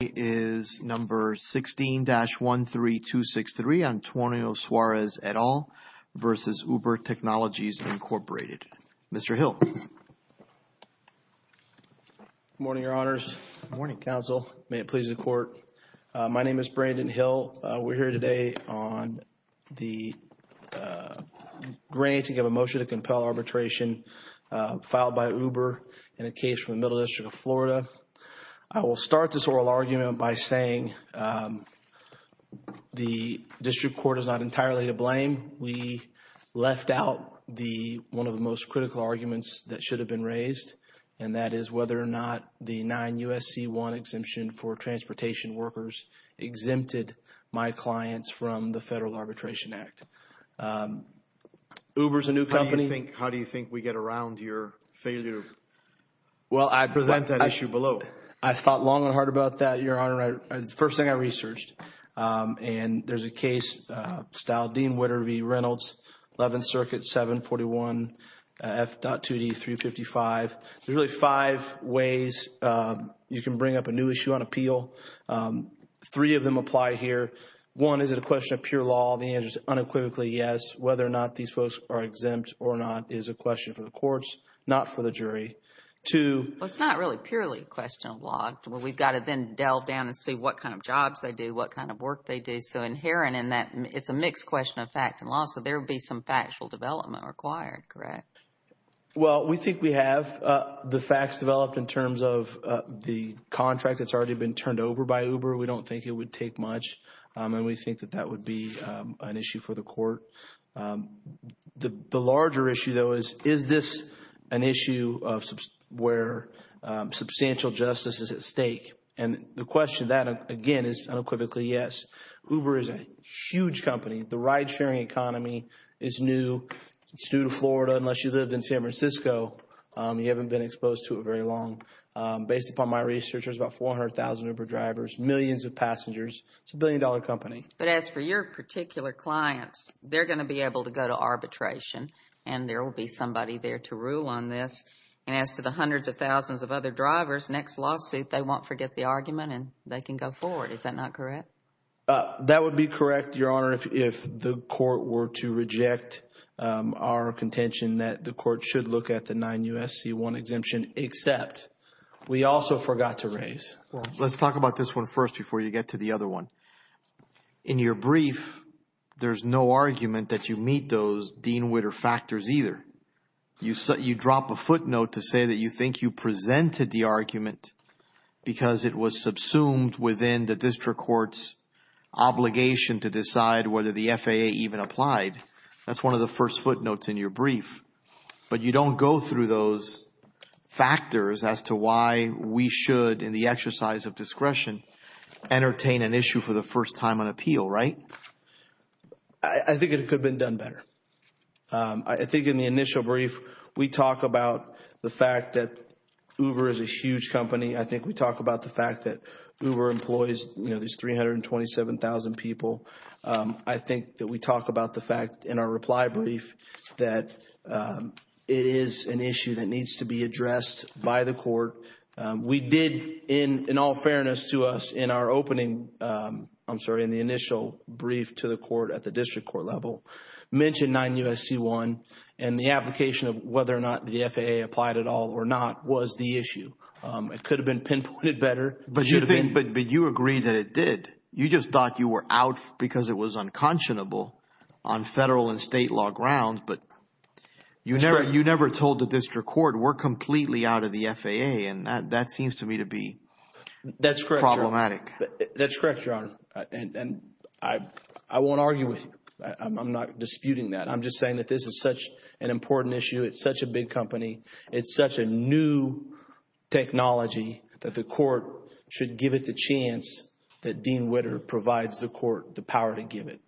It is number 16-13263, Antonio Suarez et al. versus Uber Technologies, Incorporated. Mr. Hill. Good morning, Your Honors. Good morning, Counsel. May it please the Court. My name is Brandon Hill. We're here today on the grant to give a motion to compel arbitration filed by Uber in a case from the Middle District of Florida. I will start this oral argument by saying the District Court is not entirely to blame. We left out one of the most critical arguments that should have been raised, and that is whether or not the 9-USC-1 exemption for transportation workers exempted my clients from the Federal Arbitration Act. Uber is a new company. How do you think we get around your failure? Well, I present that issue below. I thought long and hard about that, Your Honor. The first thing I researched, and there's a case style, Dean Witter v. Reynolds, 11th Circuit, 741 F.2D 355. There's really five ways you can bring up a new issue on appeal. Three of them apply here. One, is it a question of pure law? The answer is unequivocally yes. Whether or not these folks are exempt or not is a question for the courts, not for the jury. It's not really purely a question of law. We've got to then delve down and see what kind of jobs they do, what kind of work they do. Inherent in that, it's a mixed question of fact and law, so there would be some factual development required, correct? Well, we think we have. The facts developed in terms of the contract that's already been turned over by Uber, we don't think it would take much. We think that that would be an issue for the court. The larger issue, though, is this an issue where substantial justice is at stake? The question to that, again, is unequivocally yes. Uber is a huge company. The ride-sharing economy is new. It's new to Florida, unless you lived in San Francisco. You haven't been exposed to it very long. Based upon my research, there's about 400,000 Uber drivers, millions of passengers. It's a billion-dollar company. But as for your particular clients, they're going to be able to go to arbitration, and there will be somebody there to rule on this. And as to the hundreds of thousands of other drivers, next lawsuit, they won't forget the argument and they can go forward. Is that not correct? That would be correct, Your Honor, if the court were to reject our contention that the court should look at the 9 U.S.C. 1 exemption, except we also forgot to raise. Let's talk about this one first before you get to the other one. In your brief, there's no argument that you meet those Dean Witter factors either. You drop a footnote to say that you think you presented the argument because it was subsumed within the district court's obligation to decide whether the FAA even applied. That's one of the first footnotes in your brief. But you don't go through those factors as to why we should, in the exercise of discretion, entertain an issue for the first time on appeal, right? I think it could have been done better. I think in the initial brief, we talk about the fact that Uber is a huge company. I think we talk about the fact that Uber employs these 327,000 people. I think that we talk about the fact in our reply brief that it is an issue that needs to be addressed by the court. We did, in all fairness to us, in our opening, I'm sorry, in the initial brief to the court at the district court level, mention 9 U.S.C. 1 and the application of whether or not the FAA applied at all or not was the issue. It could have been pinpointed better. But you agreed that it did. You just thought you were out because it was unconscionable on federal and state law grounds. But you never told the district court, we're completely out of the FAA. And that seems to me to be problematic. That's correct, Your Honor. And I won't argue with you. I'm not disputing that. I'm just saying that this is such an important issue. It's such a big company. It's such a new technology that the court should give it the chance that Dean Witter provides the court the power to give it.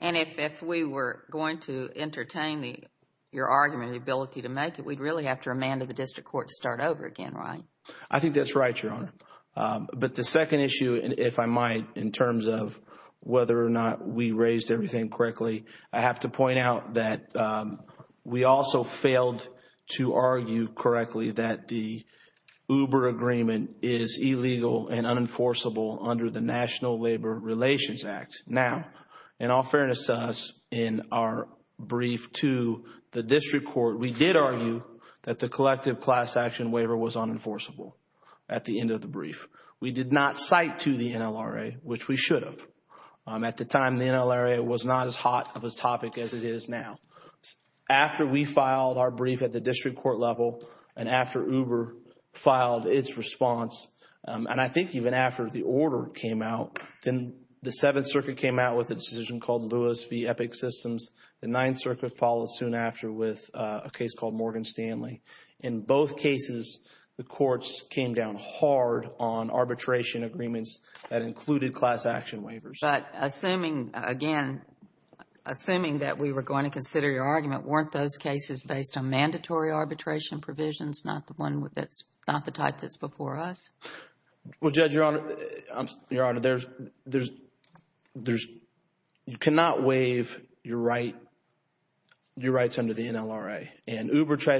And if we were going to entertain your argument, the ability to make it, we'd really have to remand the district court to start over again, right? I think that's right, Your Honor. But the second issue, if I might, in terms of whether or not we raised everything correctly, I have to point out that we also failed to argue correctly that the Uber agreement is illegal and unenforceable under the National Labor Relations Act. Now, in all fairness to us, in our brief to the district court, we did argue that the collective class action waiver was unenforceable at the end of the brief. We did not cite to the NLRA, which we should have. At the time, the NLRA was not as hot of a topic as it is now. After we filed our brief at the district court level and after Uber filed its response, and I think even after the order came out, then the Seventh Circuit came out with a decision called Lewis v. Epic Systems. The Ninth Circuit followed soon after with a case called Morgan Stanley. In both cases, the courts came down hard on arbitration agreements that included class action waivers. But assuming, again, assuming that we were going to consider your argument, weren't those cases based on mandatory arbitration provisions, not the type that's before us? Well, Judge, Your Honor, Your Honor, you cannot waive your rights under the NLRA.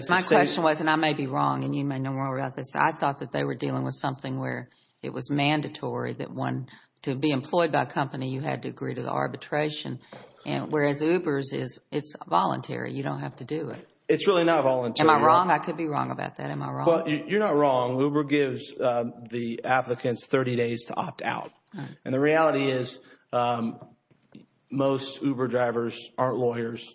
My question was, and I may be wrong and you may know more about this, I thought that they were dealing with something where it was mandatory that one, to be employed by a company, you had to agree to the arbitration, whereas Uber's is, it's voluntary. You don't have to do it. It's really not voluntary. Am I wrong? I could be wrong about that. Am I wrong? You're not wrong. Uber gives the applicants 30 days to opt out. And the reality is most Uber drivers aren't lawyers.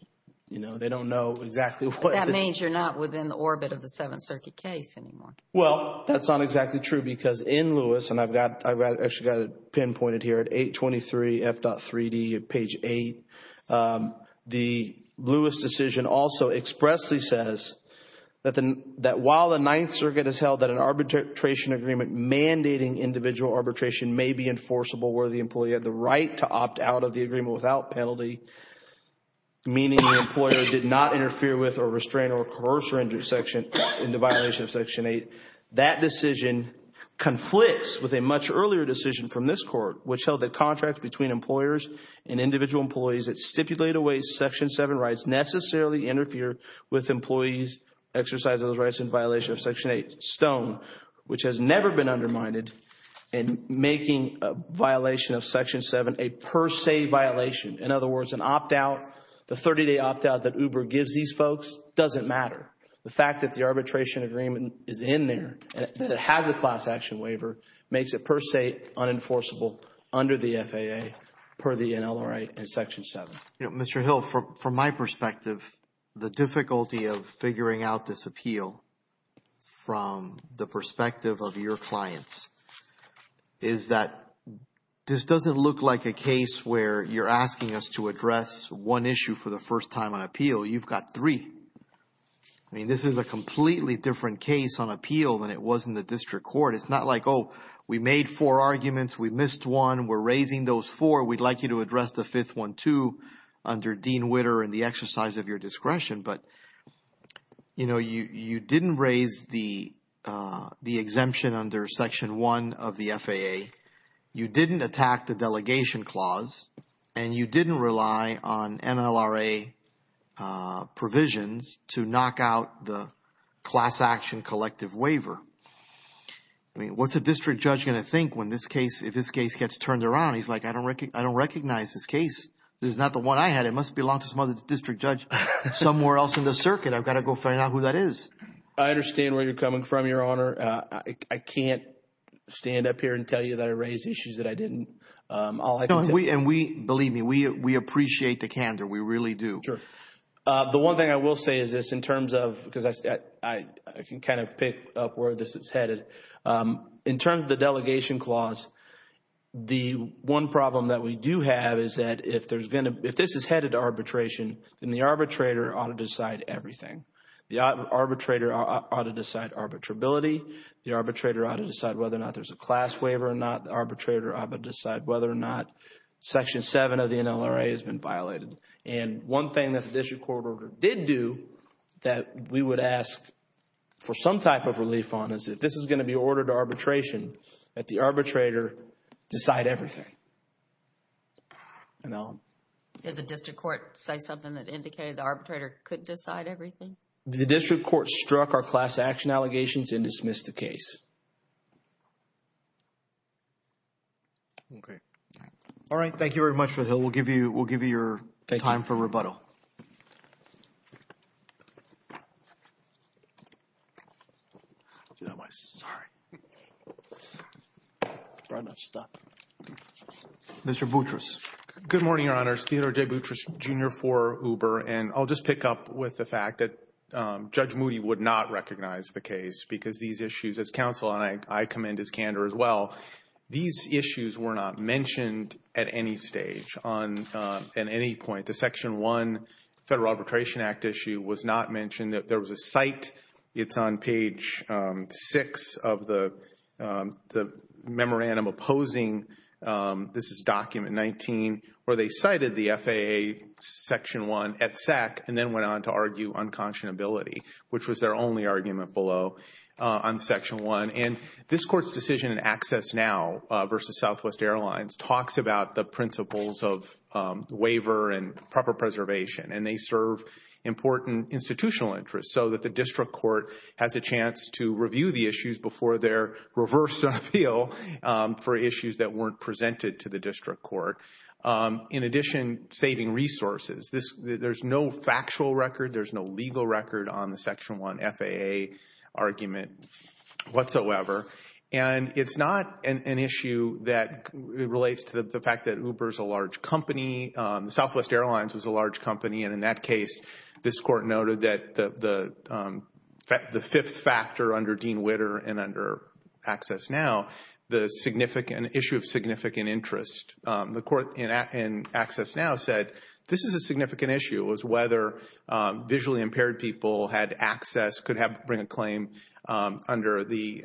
You know, they don't know exactly what this is. That means you're not within the orbit of the Seventh Circuit case anymore. Well, that's not exactly true because in Lewis, and I've actually got it pinpointed here at 823 F.3D, page 8, the Lewis decision also expressly says that while the Ninth Circuit has held that an arbitration agreement mandating individual arbitration may be enforceable where the employee had the right to opt out of the agreement without penalty, meaning the employer did not interfere with, or restrain, or coerce, or intersection in the violation of Section 8, that decision conflicts with a much earlier decision from this Court, which held that contracts between employers and individual employees that stipulate a way Section 7 rights necessarily interfere with employees' exercise of those rights in violation of Section 8. This is a stone which has never been undermined in making a violation of Section 7 a per se violation. In other words, an opt out, the 30-day opt out that Uber gives these folks doesn't matter. The fact that the arbitration agreement is in there, that it has a class action waiver, makes it per se unenforceable under the FAA per the NLRA and Section 7. Mr. Hill, from my perspective, the difficulty of figuring out this appeal from the perspective of your clients is that this doesn't look like a case where you're asking us to address one issue for the first time on appeal. You've got three. I mean, this is a completely different case on appeal than it was in the District Court. It's not like, oh, we made four arguments, we missed one, we're raising those four, we'd like you to address the fifth one too under Dean Witter and the exercise of your discretion. But, you know, you didn't raise the exemption under Section 1 of the FAA, you didn't attack the delegation clause, and you didn't rely on NLRA provisions to knock out the class action collective waiver. I mean, what's a district judge going to think when this case, if this case gets turned around? He's like, I don't recognize this case. This is not the one I had. It must belong to some other district judge somewhere else in the circuit. I've got to go find out who that is. I understand where you're coming from, Your Honor. I can't stand up here and tell you that I raised issues that I didn't. And we, believe me, we appreciate the candor. We really do. Sure. The one thing I will say is this in terms of, because I can kind of pick up where this is headed. In terms of the delegation clause, the one problem that we do have is that if there's going to, if this is headed to arbitration, then the arbitrator ought to decide everything. The arbitrator ought to decide arbitrability. The arbitrator ought to decide whether or not there's a class waiver or not. The arbitrator ought to decide whether or not Section 7 of the NLRA has been violated. And one thing that the district court order did do that we would ask for some type of relief on is if this is going to be ordered to arbitration, that the arbitrator decide everything. Did the district court say something that indicated the arbitrator couldn't decide everything? The district court struck our class action allegations and dismissed the case. Okay. All right. Thank you very much. We'll give you your time for rebuttal. Mr. Boutrous. Good morning, Your Honors. Theodore J. Boutrous, Jr. for Uber. And I'll just pick up with the fact that Judge Moody would not recognize the case because these issues, as counsel, and I commend his candor as well, these issues were not mentioned at any stage on, at any point. The Section 1 Federal Arbitration Act issue was not mentioned. There was a cite. It's on page 6 of the memorandum opposing, this is document 19, where they cited the FAA Section 1 at SAC and then went on to argue unconscionability, which was their only argument below on Section 1. And this Court's decision in Access Now versus Southwest Airlines talks about the principles of waiver and proper preservation, and they serve important institutional interests so that the district court has a chance to review the issues before their reverse appeal for issues that weren't presented to the district court. In addition, saving resources. There's no factual record. There's no legal record on the Section 1 FAA argument whatsoever. And it's not an issue that relates to the fact that Uber is a large company. Southwest Airlines was a large company, and in that case, this Court noted that the fifth factor under Dean Witter and under Access Now, the issue of significant interest. The Court in Access Now said this is a significant issue, is whether visually impaired people had access, could bring a claim under the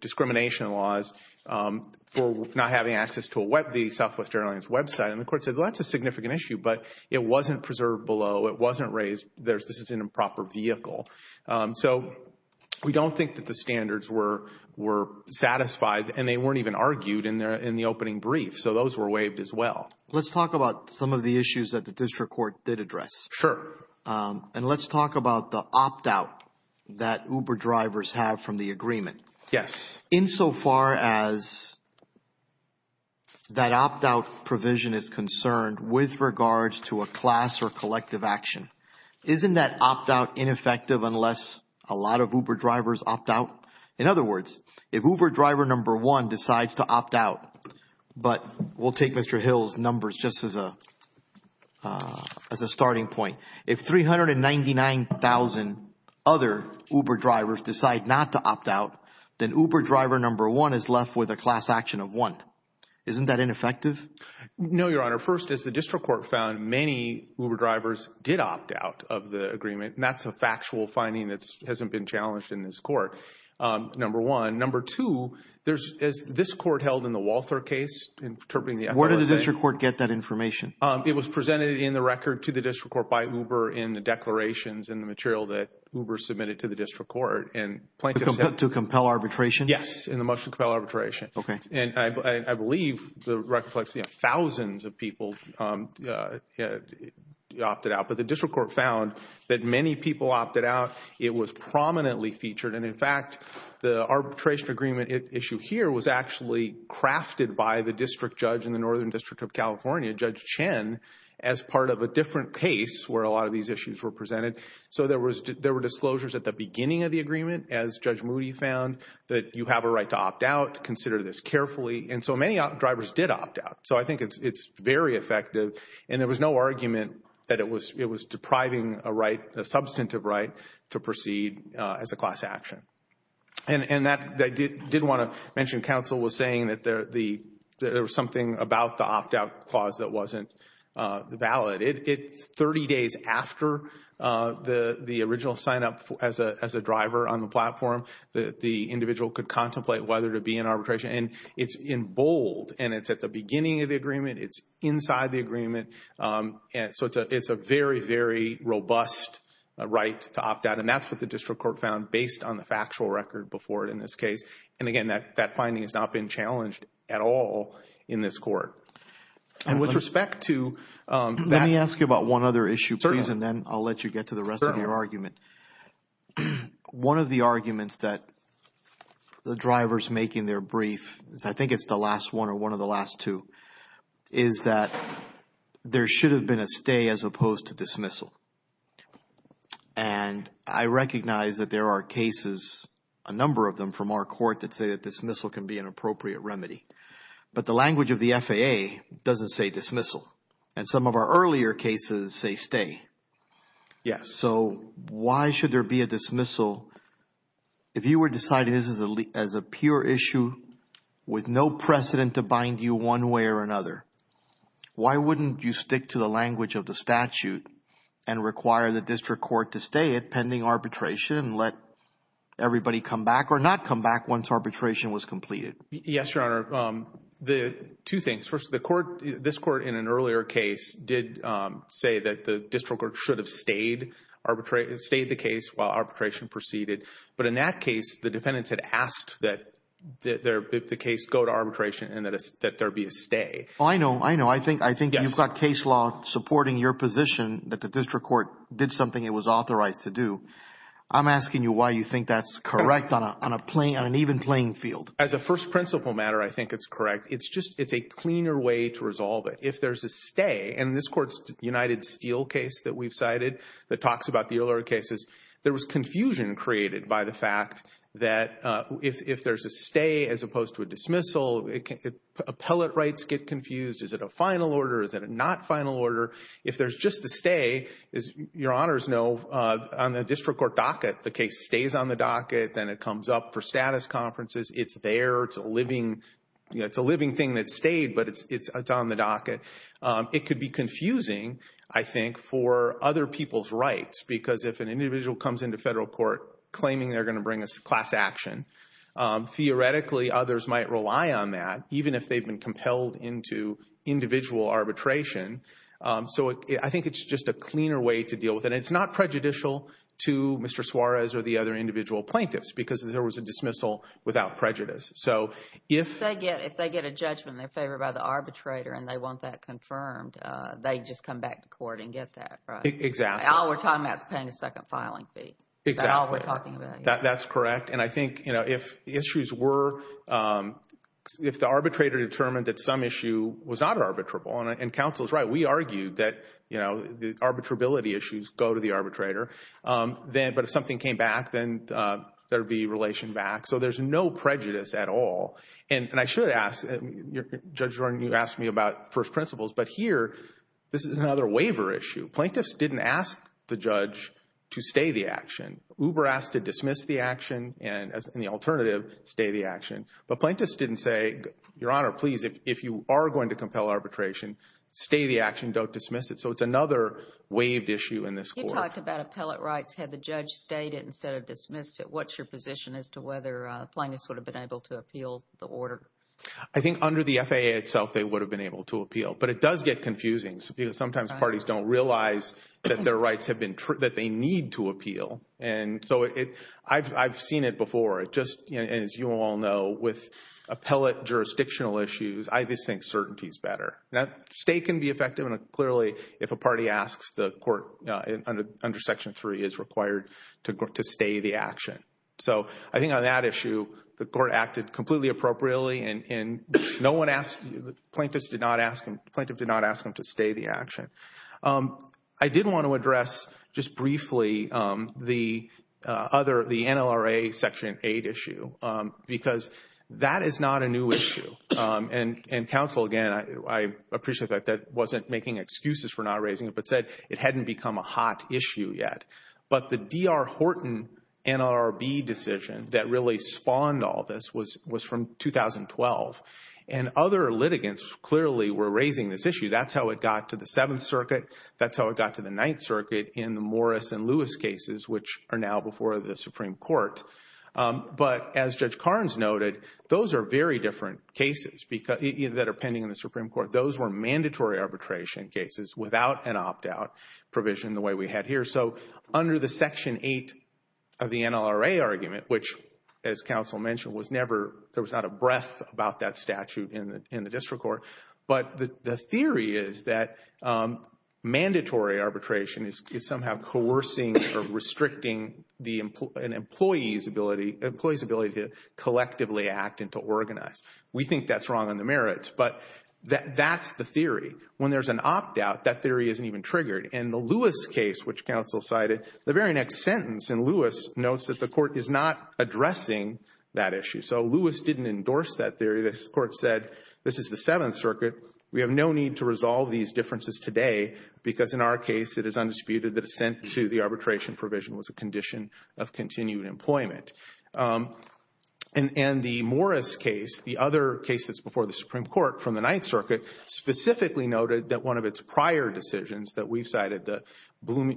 discrimination laws for not having access to the Southwest Airlines website. And the Court said, well, that's a significant issue, but it wasn't preserved below. It wasn't raised. This is an improper vehicle. So we don't think that the standards were satisfied, and they weren't even argued in the opening brief, so those were waived as well. Let's talk about some of the issues that the district court did address. Sure. And let's talk about the opt-out that Uber drivers have from the agreement. Yes. Insofar as that opt-out provision is concerned with regards to a class or collective action, isn't that opt-out ineffective unless a lot of Uber drivers opt out? In other words, if Uber driver number one decides to opt out, but we'll take Mr. Hill's numbers just as a starting point. If 399,000 other Uber drivers decide not to opt out, then Uber driver number one is left with a class action of one. Isn't that ineffective? No, Your Honor. First, as the district court found, many Uber drivers did opt out of the agreement, and that's a factual finding that hasn't been challenged in this court, number one. Number two, as this court held in the Walther case, interpreting the FAA. Where did the district court get that information? It was presented in the record to the district court by Uber in the declarations and the material that Uber submitted to the district court. To compel arbitration? Yes, in the motion to compel arbitration. And I believe the record reflects thousands of people opted out, but the district court found that many people opted out. It was prominently featured. And, in fact, the arbitration agreement issue here was actually crafted by the district judge in the Northern District of California, Judge Chen, as part of a different case where a lot of these issues were presented. So there were disclosures at the beginning of the agreement, as Judge Moody found, that you have a right to opt out, consider this carefully. And so many drivers did opt out. So I think it's very effective. And there was no argument that it was depriving a right, a substantive right, to proceed as a class action. And I did want to mention, counsel was saying that there was something about the opt-out clause that wasn't valid. It's 30 days after the original sign-up as a driver on the platform. The individual could contemplate whether to be in arbitration. And it's in bold, and it's at the beginning of the agreement. It's inside the agreement. And so it's a very, very robust right to opt out. And that's what the district court found based on the factual record before it in this case. And, again, that finding has not been challenged at all in this court. And with respect to that. Let me ask you about one other issue, please, and then I'll let you get to the rest of your argument. One of the arguments that the drivers make in their brief, I think it's the last one or one of the last two, is that there should have been a stay as opposed to dismissal. And I recognize that there are cases, a number of them, from our court that say that dismissal can be an appropriate remedy. But the language of the FAA doesn't say dismissal. And some of our earlier cases say stay. Yes. So why should there be a dismissal? If you were deciding this as a pure issue with no precedent to bind you one way or another, why wouldn't you stick to the language of the statute and require the district court to stay at pending arbitration and let everybody come back or not come back once arbitration was completed? Yes, Your Honor. Two things. First, the court, this court in an earlier case, did say that the district court should have stayed the case while arbitration proceeded. But in that case, the defendants had asked that the case go to arbitration and that there be a stay. I know. I know. I think you've got case law supporting your position that the district court did something it was authorized to do. I'm asking you why you think that's correct on an even playing field. As a first principle matter, I think it's correct. It's a cleaner way to resolve it. If there's a stay, and this court's United Steel case that we've cited that talks about the earlier cases, there was confusion created by the fact that if there's a stay as opposed to a dismissal, appellate rights get confused. Is it a final order? Is it a not final order? If there's just a stay, as Your Honors know, on the district court docket, the case stays on the docket, then it comes up for status conferences. It's there. It's a living thing that stayed, but it's on the docket. It could be confusing, I think, for other people's rights, because if an individual comes into federal court claiming they're going to bring a class action, theoretically others might rely on that, even if they've been compelled into individual arbitration. So I think it's just a cleaner way to deal with it. And it's not prejudicial to Mr. Suarez or the other individual plaintiffs because there was a dismissal without prejudice. If they get a judgment in their favor by the arbitrator and they want that confirmed, they just come back to court and get that, right? Exactly. All we're talking about is paying a second filing fee. Exactly. That's all we're talking about. That's correct. And I think if the arbitrator determined that some issue was not arbitrable, and counsel is right, we argued that the arbitrability issues go to the arbitrator, but if something came back, then there would be relation back. So there's no prejudice at all. And I should ask, Judge Jordan, you asked me about first principles, but here this is another waiver issue. Plaintiffs didn't ask the judge to stay the action. Uber asked to dismiss the action, and the alternative, stay the action. But plaintiffs didn't say, Your Honor, please, if you are going to compel arbitration, stay the action, don't dismiss it. So it's another waived issue in this court. You talked about appellate rights. Had the judge stayed it instead of dismissed it, what's your position as to whether plaintiffs would have been able to appeal the order? I think under the FAA itself, they would have been able to appeal. But it does get confusing, because sometimes parties don't realize that their rights have been true, that they need to appeal. And so I've seen it before. Just as you all know, with appellate jurisdictional issues, I just think certainty is better. Stay can be effective, and clearly, if a party asks, the court under Section 3 is required to stay the action. So I think on that issue, the court acted completely appropriately, and plaintiffs did not ask them to stay the action. I did want to address just briefly the NLRA Section 8 issue, because that is not a new issue. And counsel, again, I appreciate that that wasn't making excuses for not raising it, but said it hadn't become a hot issue yet. But the D.R. Horton NLRB decision that really spawned all this was from 2012, and other litigants clearly were raising this issue. That's how it got to the Seventh Circuit. That's how it got to the Ninth Circuit in the Morris and Lewis cases, which are now before the Supreme Court. But as Judge Carnes noted, those are very different cases that are pending in the Supreme Court. Those were mandatory arbitration cases without an opt-out provision the way we had here. So under the Section 8 of the NLRA argument, which, as counsel mentioned, there was not a breath about that statute in the district court, but the theory is that mandatory arbitration is somehow coercing or restricting an employee's ability to collectively act and to organize. We think that's wrong on the merits, but that's the theory. When there's an opt-out, that theory isn't even triggered. In the Lewis case, which counsel cited, the very next sentence in Lewis notes that the court is not addressing that issue. So Lewis didn't endorse that theory. The court said this is the Seventh Circuit. We have no need to resolve these differences today, because in our case it is undisputed that assent to the arbitration provision was a condition of continued employment. And the Morris case, the other case that's before the Supreme Court from the Ninth Circuit, specifically noted that one of its prior decisions that we've cited, the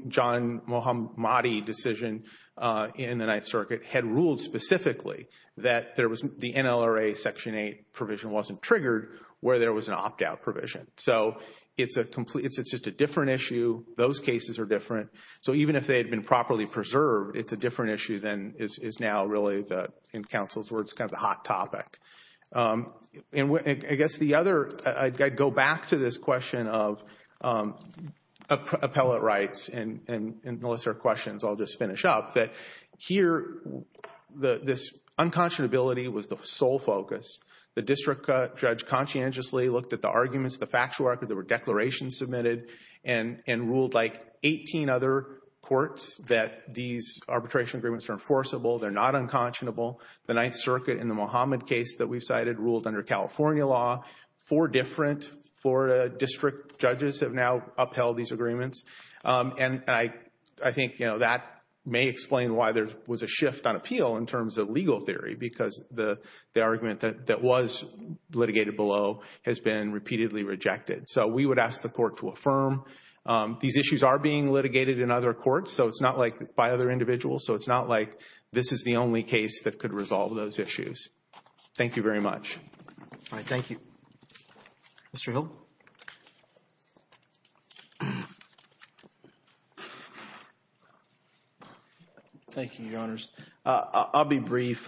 John Muhammadi decision in the Ninth Circuit, had ruled specifically that the NLRA Section 8 provision wasn't triggered where there was an opt-out provision. So it's just a different issue. Those cases are different. So even if they had been properly preserved, it's a different issue than is now really, in counsel's words, kind of the hot topic. I guess the other, I'd go back to this question of appellate rights and the list of questions I'll just finish up, that here this unconscionability was the sole focus. The district judge conscientiously looked at the arguments, the factual record that were declaration submitted, and ruled like 18 other courts that these arbitration agreements are enforceable, they're not unconscionable. The Ninth Circuit in the Muhammad case that we've cited ruled under California law. Four different Florida district judges have now upheld these agreements. And I think that may explain why there was a shift on appeal in terms of legal theory, because the argument that was litigated below has been repeatedly rejected. So we would ask the Court to affirm these issues are being litigated in other courts, so it's not like by other individuals, so it's not like this is the only case that could resolve those issues. Thank you very much. Mr. Hill? Thank you, Your Honors. I'll be brief.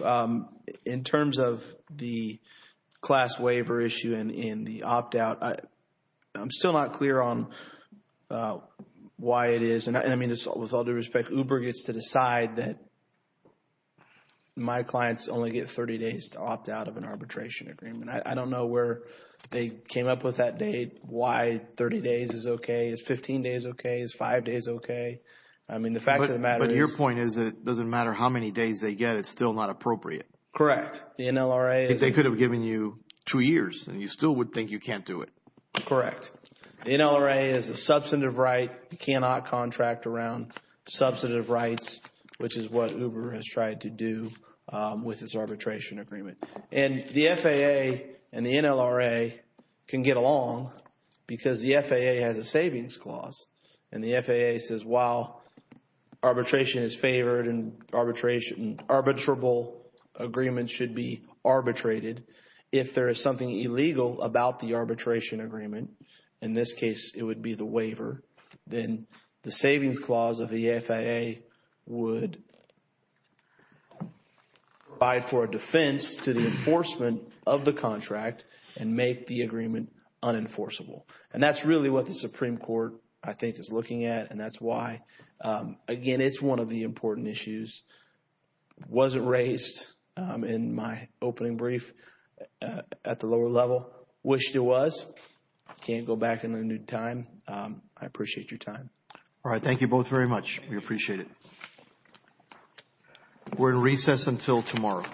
In terms of the class waiver issue and the opt-out, I'm still not clear on why it is. And, I mean, with all due respect, Uber gets to decide that my clients only get 30 days to opt out of an arbitration agreement. I don't know where they came up with that date, why 30 days is okay. Is 15 days okay? Is five days okay? I mean, the fact of the matter is. My first point is that it doesn't matter how many days they get, it's still not appropriate. Correct. The NLRA is. They could have given you two years, and you still would think you can't do it. Correct. The NLRA is a substantive right. You cannot contract around substantive rights, which is what Uber has tried to do with this arbitration agreement. And the FAA and the NLRA can get along because the FAA has a savings clause, and the FAA says while arbitration is favored and arbitrable agreements should be arbitrated, if there is something illegal about the arbitration agreement, in this case it would be the waiver, then the savings clause of the FAA would provide for a defense to the enforcement of the contract and make the agreement unenforceable. And that's really what the Supreme Court, I think, is looking at, and that's why, again, it's one of the important issues. Wasn't raised in my opening brief at the lower level. Wished it was. Can't go back in a new time. I appreciate your time. All right. Thank you both very much. We appreciate it. We're in recess until tomorrow. All right. Thank you.